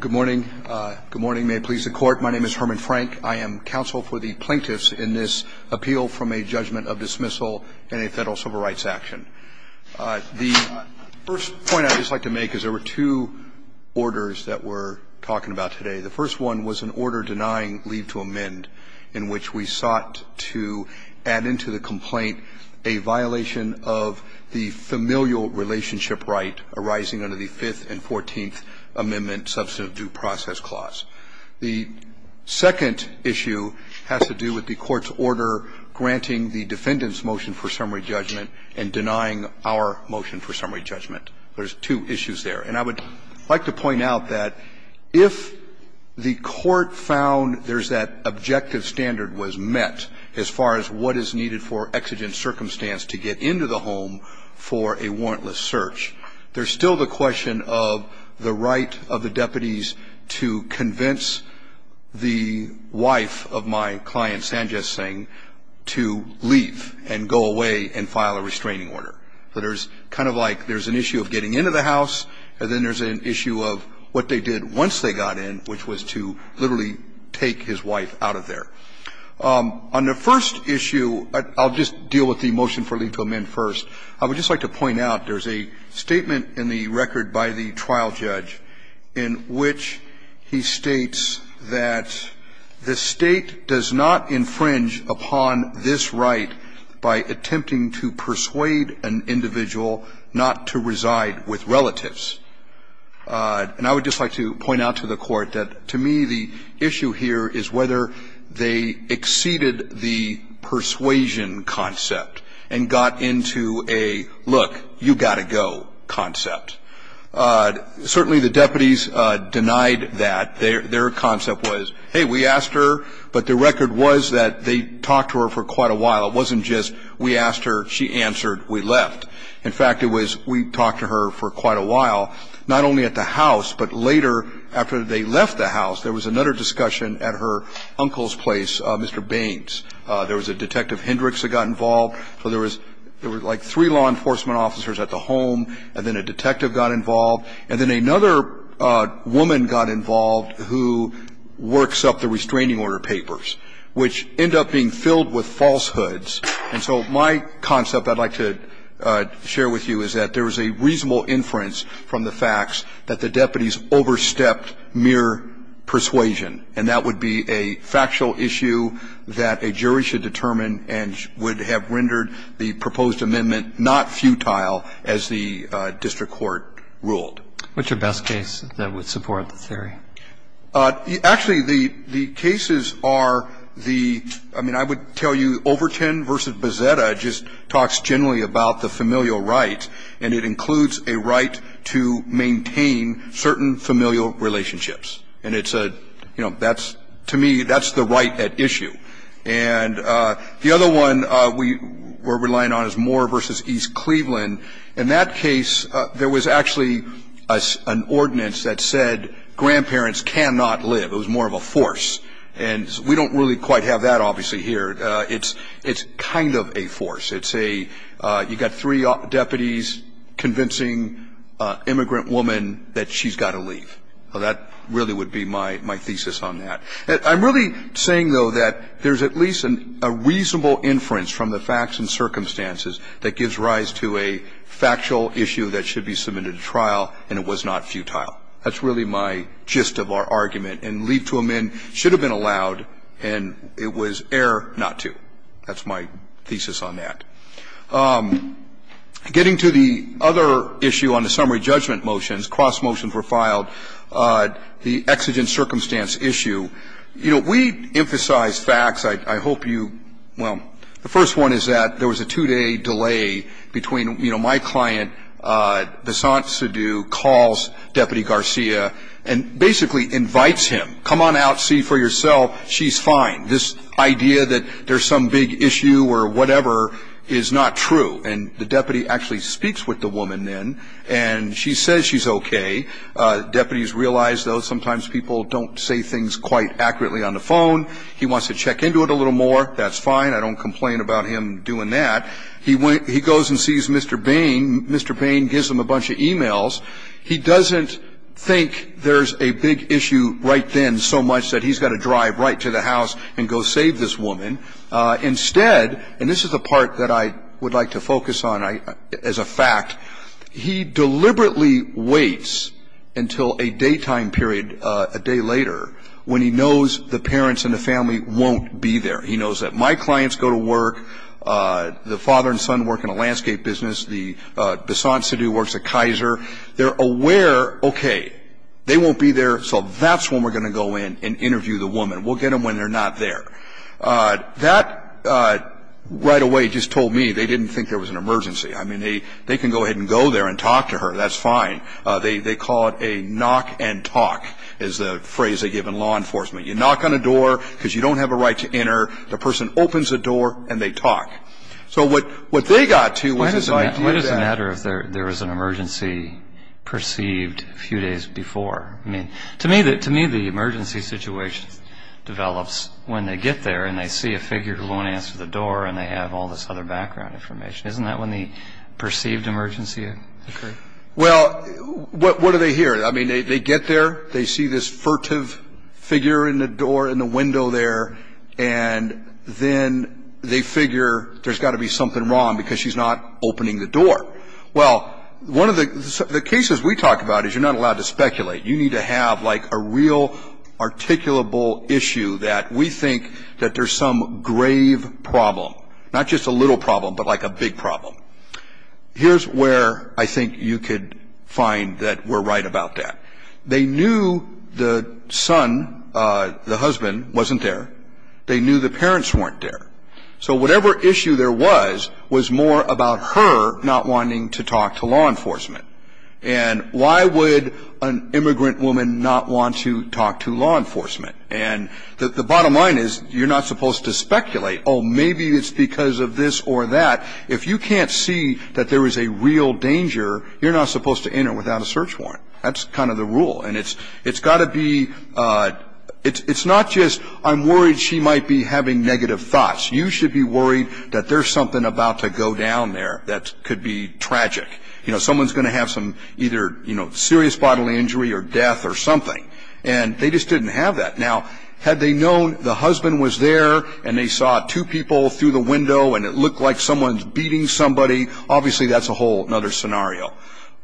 Good morning. Good morning. May it please the court. My name is Herman Frank. I am counsel for the plaintiffs in this appeal from a judgment of dismissal in a federal civil rights action. The first point I'd just like to make is there were two orders that we're talking about today. The first one was an order denying leave to amend, in which we sought to add into the complaint a violation of the familial relationship right arising under the Fifth and Fourteenth Amendment Substantive Due Process Clause. The second issue has to do with the court's order granting the defendant's motion for summary judgment and denying our motion for summary judgment. There's two issues there. And I would like to point out that if the court found there's that objective standard was met as far as what is needed for exigent circumstance to get into the home for a warrantless search, there's still the question of the right of the deputies to convince the wife of my client, Sanjit Singh, to leave and go away and file a restraining order. So there's kind of like there's an issue of getting into the house, and then there's an issue of what they did once they got in, which was to literally take his wife out of there. On the first issue, I'll just deal with the motion for leave to amend first. I would just like to point out there's a statement in the record by the trial judge in which he states that the State does not infringe upon this right by attempting to persuade an individual not to reside with relatives. And I would just like to point out to the Court that, to me, the issue here is whether they exceeded the persuasion concept and got into a look, you've got to go concept. Certainly, the deputies denied that. Their concept was, hey, we asked her, but the State talked to her for quite a while. It wasn't just we asked her, she answered, we left. In fact, it was we talked to her for quite a while, not only at the house, but later, after they left the house, there was another discussion at her uncle's place, Mr. Baines. There was a Detective Hendricks that got involved. So there was like three law enforcement officers at the home, and then a detective got involved, and then another woman got involved who works up the restraining order papers, which end up being filled with falsehoods. And so my concept I'd like to share with you is that there was a reasonable inference from the facts that the deputies overstepped mere persuasion, and that would be a factual issue that a jury should determine and would have rendered the proposed amendment not futile as the district court ruled. What's your best case that would support the theory? Actually, the cases are the, I mean, I would tell you Overton v. Bazzetta just talks generally about the familial right, and it includes a right to maintain certain familial relationships. And it's a, you know, that's, to me, that's the right at issue. And the other one we were relying on is Moore v. East Cleveland. In that case, there was actually an ordinance that said grandparents cannot live. It was more of a force. And we don't really quite have that, obviously, here. It's kind of a force. It's a, you've got three deputies convincing an immigrant woman that she's got to leave. That really would be my thesis on that. I'm really saying, though, that there's at least a reasonable inference from the facts and circumstances that gives rise to a factual issue that should be submitted to trial, and it was not futile. That's really my gist of our argument. And leave to amend should have been allowed, and it was error not to. That's my thesis on that. Getting to the other issue on the summary judgment motions, cross motions were filed. The exigent circumstance issue. You know, we emphasize facts. I hope you, well, the first one is that there was a two-day delay between, you know, my client, Vasant Sidhu, calls Deputy Garcia and basically invites him, come on out, see for yourself, she's fine. This idea that there's some big issue or whatever is not true. And the deputy actually speaks with the woman then, and she says she's okay. Deputies realize, though, sometimes people don't say things quite accurately on the phone. He wants to check into it a little more. That's fine. I don't complain about him doing that. He goes and sees Mr. Bain. Mr. Bain gives him a bunch of e-mails. He doesn't think there's a big issue right then so much that he's got to drive right to the house and go save this woman. Instead, and this is a part that I would like to focus on as a fact, he deliberately waits until a daytime period, a day later, when he knows the parents and the family won't be there. He knows that my clients go to work. The father and son work in a landscape business. The Vasant Sidhu works at Kaiser. They're aware, okay, they won't be there, so that's when we're going to go in and interview the woman. We'll get them when they're not there. That, right away, just told me they didn't think there was an emergency. I mean, they can go ahead and go there and talk to her. That's fine. They call it a knock and talk is the phrase they give in law enforcement. You knock on a door because you don't have a right to enter. The person opens the door, and they talk. So what they got to was the idea that... develops when they get there, and they see a figure who won't answer the door, and they have all this other background information. Isn't that when the perceived emergency occurred? Well, what do they hear? I mean, they get there, they see this furtive figure in the door, in the window there, and then they figure there's got to be something wrong because she's not opening the door. Well, one of the cases we talk about is you're not allowed to speculate. You need to have like a real articulable issue that we think that there's some grave problem. Not just a little problem, but like a big problem. Here's where I think you could find that we're right about that. They knew the son, the husband, wasn't there. They knew the parents weren't there. So whatever issue there was, was more about her not wanting to talk to law enforcement. And why would an immigrant woman not want to talk to law enforcement? And the bottom line is you're not supposed to speculate. Oh, maybe it's because of this or that. If you can't see that there is a real danger, you're not supposed to enter without a search warrant. That's kind of the rule, and it's got to be... It's not just I'm worried she might be having negative thoughts. You should be worried that there's something about to go down there that could be tragic. You know, someone's going to have some either serious bodily injury or death or something. And they just didn't have that. Now, had they known the husband was there and they saw two people through the window and it looked like someone's beating somebody, obviously that's a whole other scenario.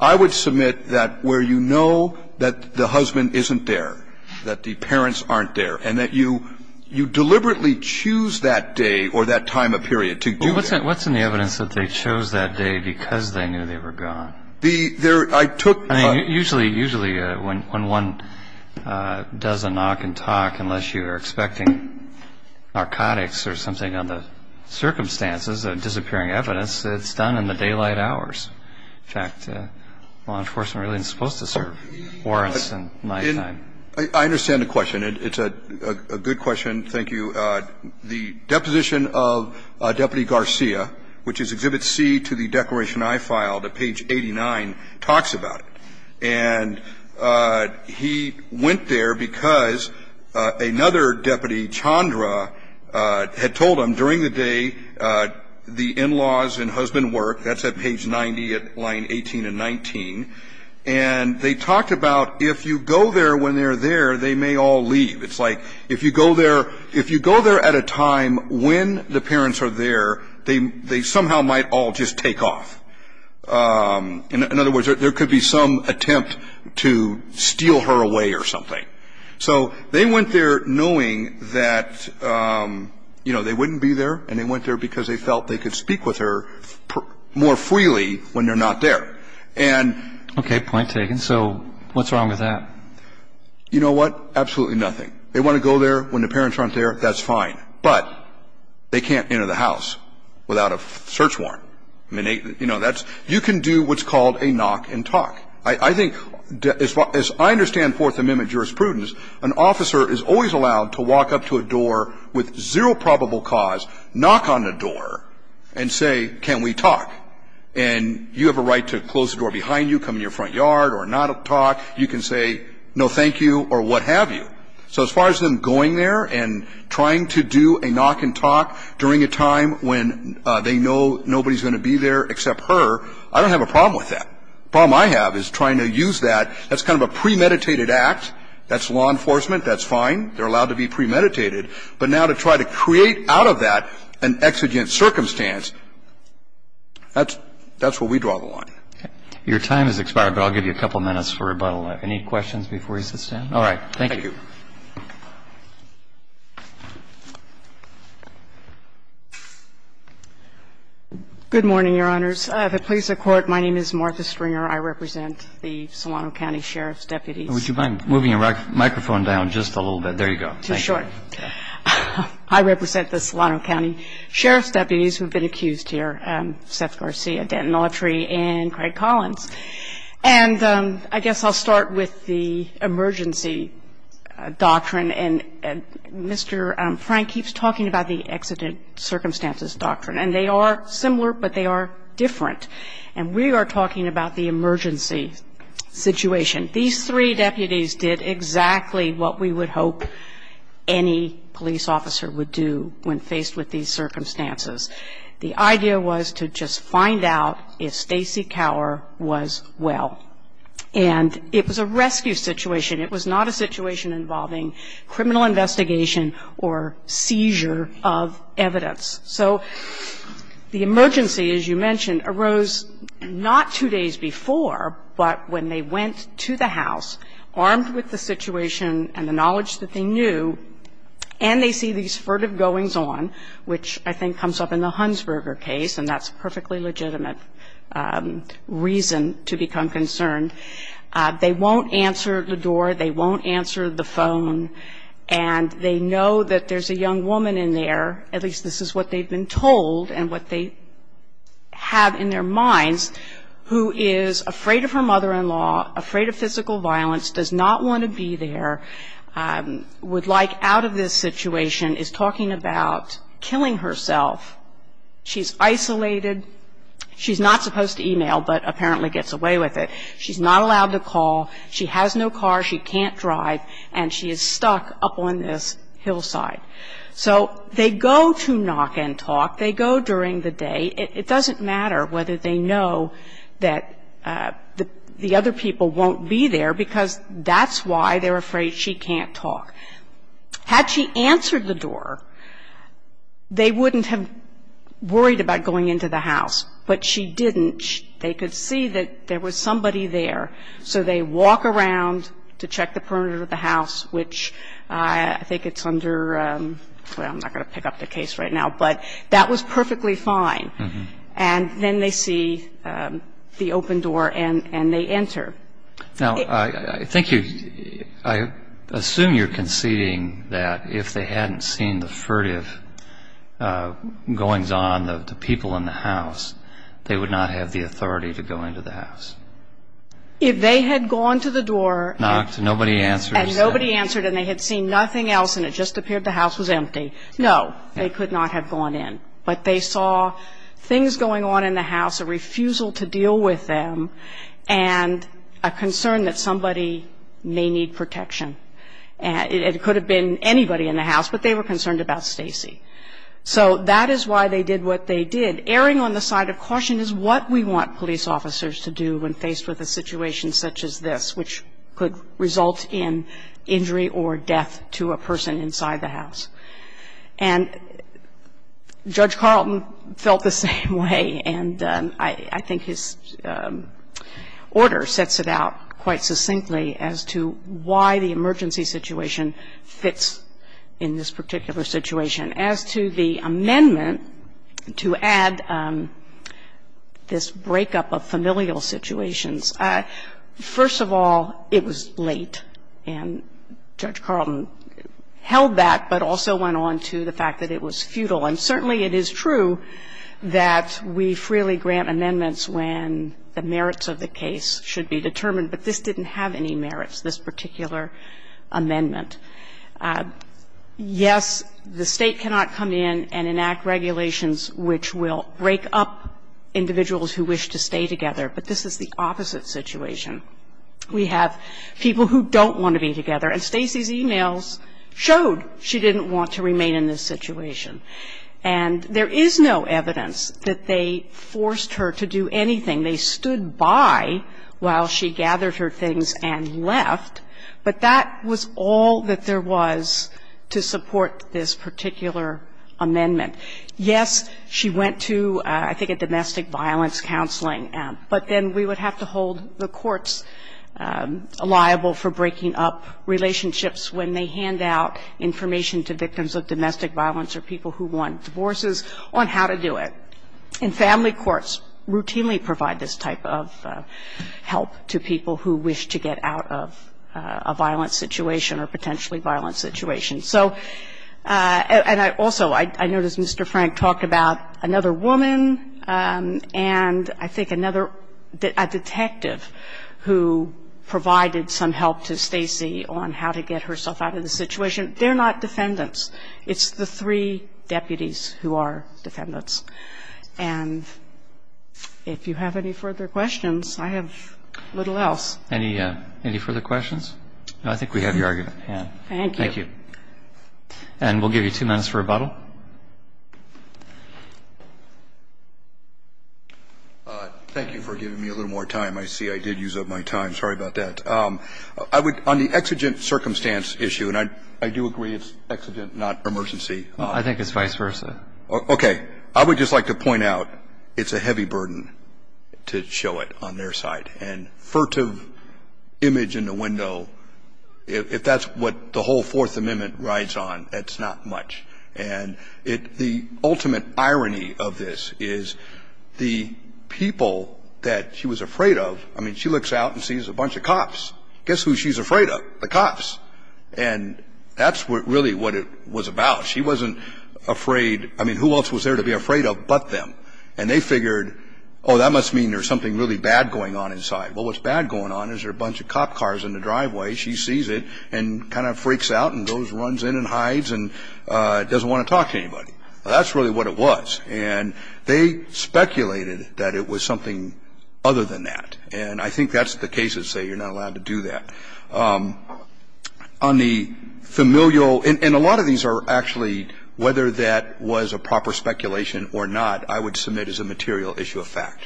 I would submit that where you know that the husband isn't there, that the parents aren't there, and that you deliberately choose that day or that time of period to go there. What's in the evidence that they chose that day because they knew they were gone? I took... Usually, usually when one does a knock and talk, unless you're expecting narcotics or something under circumstances of disappearing evidence, it's done in the daylight hours. In fact, law enforcement really isn't supposed to serve warrants in nighttime. I understand the question. It's a good question. Thank you. I'm going to go back to the deposition of Deputy Garcia, which is Exhibit C to the Declaration I filed at page 89, talks about it. And he went there because another deputy, Chandra, had told him during the day the in-laws and husband worked. That's at page 90 at line 18 and 19. And they talked about if you go there when they're there, they may all leave. It's like if you go there, if you go there at a time when the parents are there, they somehow might all just take off. In other words, there could be some attempt to steal her away or something. So they went there knowing that, you know, they wouldn't be there and they went there because they felt they could speak with her more freely when they're not there. Okay. Point taken. So what's wrong with that? You know what? Absolutely nothing. They want to go there when the parents aren't there, that's fine. But they can't enter the house without a search warrant. You can do what's called a knock and talk. I think, as far as I understand Fourth Amendment jurisprudence, an officer is always allowed to walk up to a door with zero probable cause, knock on the door, and say, can we talk? And you have a right to close the door behind you, come in your front yard or not talk. You can say no thank you or what have you. So as far as them going there and trying to do a knock and talk during a time when they know nobody's going to be there except her, I don't have a problem with that. The problem I have is trying to use that. That's kind of a premeditated act. That's law enforcement. That's fine. They're allowed to be premeditated. But now to try to create out of that an exigent circumstance, that's where we draw the line. Okay. Your time has expired, but I'll give you a couple minutes for rebuttal. Any questions before you sit down? All right. Thank you. Thank you. Good morning, Your Honors. If it pleases the Court, my name is Martha Stringer. I represent the Solano County Sheriff's deputies. Would you mind moving your microphone down just a little bit? There you go. Too short. I represent the Solano County Sheriff's deputies who have been accused here, Seth Garcia, Denton Autry, and Craig Collins. And I guess I'll start with the emergency doctrine. And Mr. Frank keeps talking about the exigent circumstances doctrine. And they are similar, but they are different. And we are talking about the emergency situation. These three deputies did exactly what we would hope any police officer would do when faced with these circumstances. The idea was to just find out if Stacey Cower was well. And it was a rescue situation. It was not a situation involving criminal investigation or seizure of evidence. So the emergency, as you mentioned, arose not two days before, but when they went to the house, armed with the situation and the knowledge that they knew, and they see these furtive goings-on, which I think comes up in the Hunsberger case, and that's a perfectly legitimate reason to become concerned. They won't answer the door. They won't answer the phone. And they know that there's a young woman in there, at least this is what they've been told and what they have in their minds, who is afraid of her mother-in-law, afraid of physical violence, does not want to be there, would like out of this situation, is talking about killing herself. She's isolated. She's not supposed to email, but apparently gets away with it. She's not allowed to call. She has no car. She can't drive. And she is stuck up on this hillside. So they go to knock and talk. They go during the day. It doesn't matter whether they know that the other people won't be there, because that's why they're afraid she can't talk. Had she answered the door, they wouldn't have worried about going into the house. But she didn't. And they could see that there was somebody there. So they walk around to check the perimeter of the house, which I think it's under ‑‑ well, I'm not going to pick up the case right now. But that was perfectly fine. And then they see the open door and they enter. Now, I think you ‑‑ I assume you're conceding that if they hadn't seen the furtive goings on, the people in the house, they would not have the authority to go into the house. If they had gone to the door. Knocked. Nobody answered. And nobody answered and they had seen nothing else and it just appeared the house was empty. No, they could not have gone in. But they saw things going on in the house, a refusal to deal with them, and a concern that somebody may need protection. It could have been anybody in the house, but they were concerned about Stacy. So that is why they did what they did. Erring on the side of caution is what we want police officers to do when faced with a situation such as this, which could result in injury or death to a person inside the house. And Judge Carlton felt the same way. And I think his order sets it out quite succinctly as to why the emergency situation fits in this particular situation. As to the amendment to add this breakup of familial situations, first of all, it was late. And Judge Carlton held that, but also went on to the fact that it was futile. And certainly it is true that we freely grant amendments when the merits of the case should be determined, but this didn't have any merits, this particular amendment. Yes, the State cannot come in and enact regulations which will break up individuals who wish to stay together, but this is the opposite situation. We have people who don't want to be together, and Stacy's e-mails showed she didn't want to remain in this situation. And there is no evidence that they forced her to do anything. They stood by while she gathered her things and left. But that was all that there was to support this particular amendment. Yes, she went to, I think, a domestic violence counseling, but then we would have to hold the courts liable for breaking up relationships when they hand out information to victims of domestic violence or people who want divorces on how to do it. And family courts routinely provide this type of help to people who wish to get out of a violent situation or potentially violent situation. So, and I also, I noticed Mr. Frank talked about another woman and I think another detective who provided some help to Stacy on how to get herself out of the situation. They're not defendants. It's the three deputies who are defendants. And if you have any further questions, I have little else. Any further questions? I think we have your argument. Thank you. Thank you. And we'll give you two minutes for rebuttal. Thank you for giving me a little more time. I see I did use up my time. Sorry about that. On the exigent circumstance issue, and I do agree it's exigent, not emergency. I think it's vice versa. Okay. I would just like to point out it's a heavy burden to show it on their side. And furtive image in the window, if that's what the whole Fourth Amendment rides on, that's not much. And the ultimate irony of this is the people that she was afraid of, I mean, she looks out and sees a bunch of cops. Guess who she's afraid of? The cops. And that's really what it was about. She wasn't afraid. I mean, who else was there to be afraid of but them? And they figured, oh, that must mean there's something really bad going on inside. Well, what's bad going on is there are a bunch of cop cars in the driveway. She sees it and kind of freaks out and runs in and hides and doesn't want to talk to anybody. That's really what it was. And they speculated that it was something other than that. And I think that's the case that say you're not allowed to do that. On the familial, and a lot of these are actually whether that was a proper speculation or not, I would submit as a material issue of fact.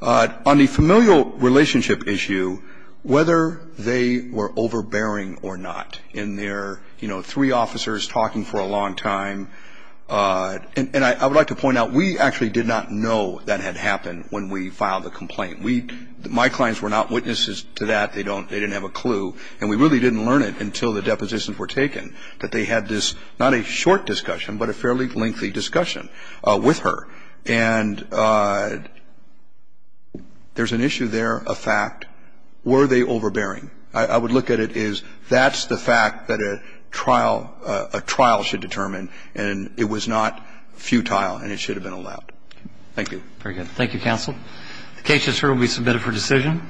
On the familial relationship issue, whether they were overbearing or not in their, you know, three officers talking for a long time. And I would like to point out we actually did not know that had happened when we filed the complaint. We, my clients were not witnesses to that. They don't, they didn't have a clue. And we really didn't learn it until the depositions were taken that they had this, not a short discussion, but a fairly lengthy discussion with her. And there's an issue there of fact. Were they overbearing? I would look at it as that's the fact that a trial, a trial should determine. And it was not futile and it should have been allowed. Thank you. Very good. Thank you, counsel. The case is hereby submitted for decision.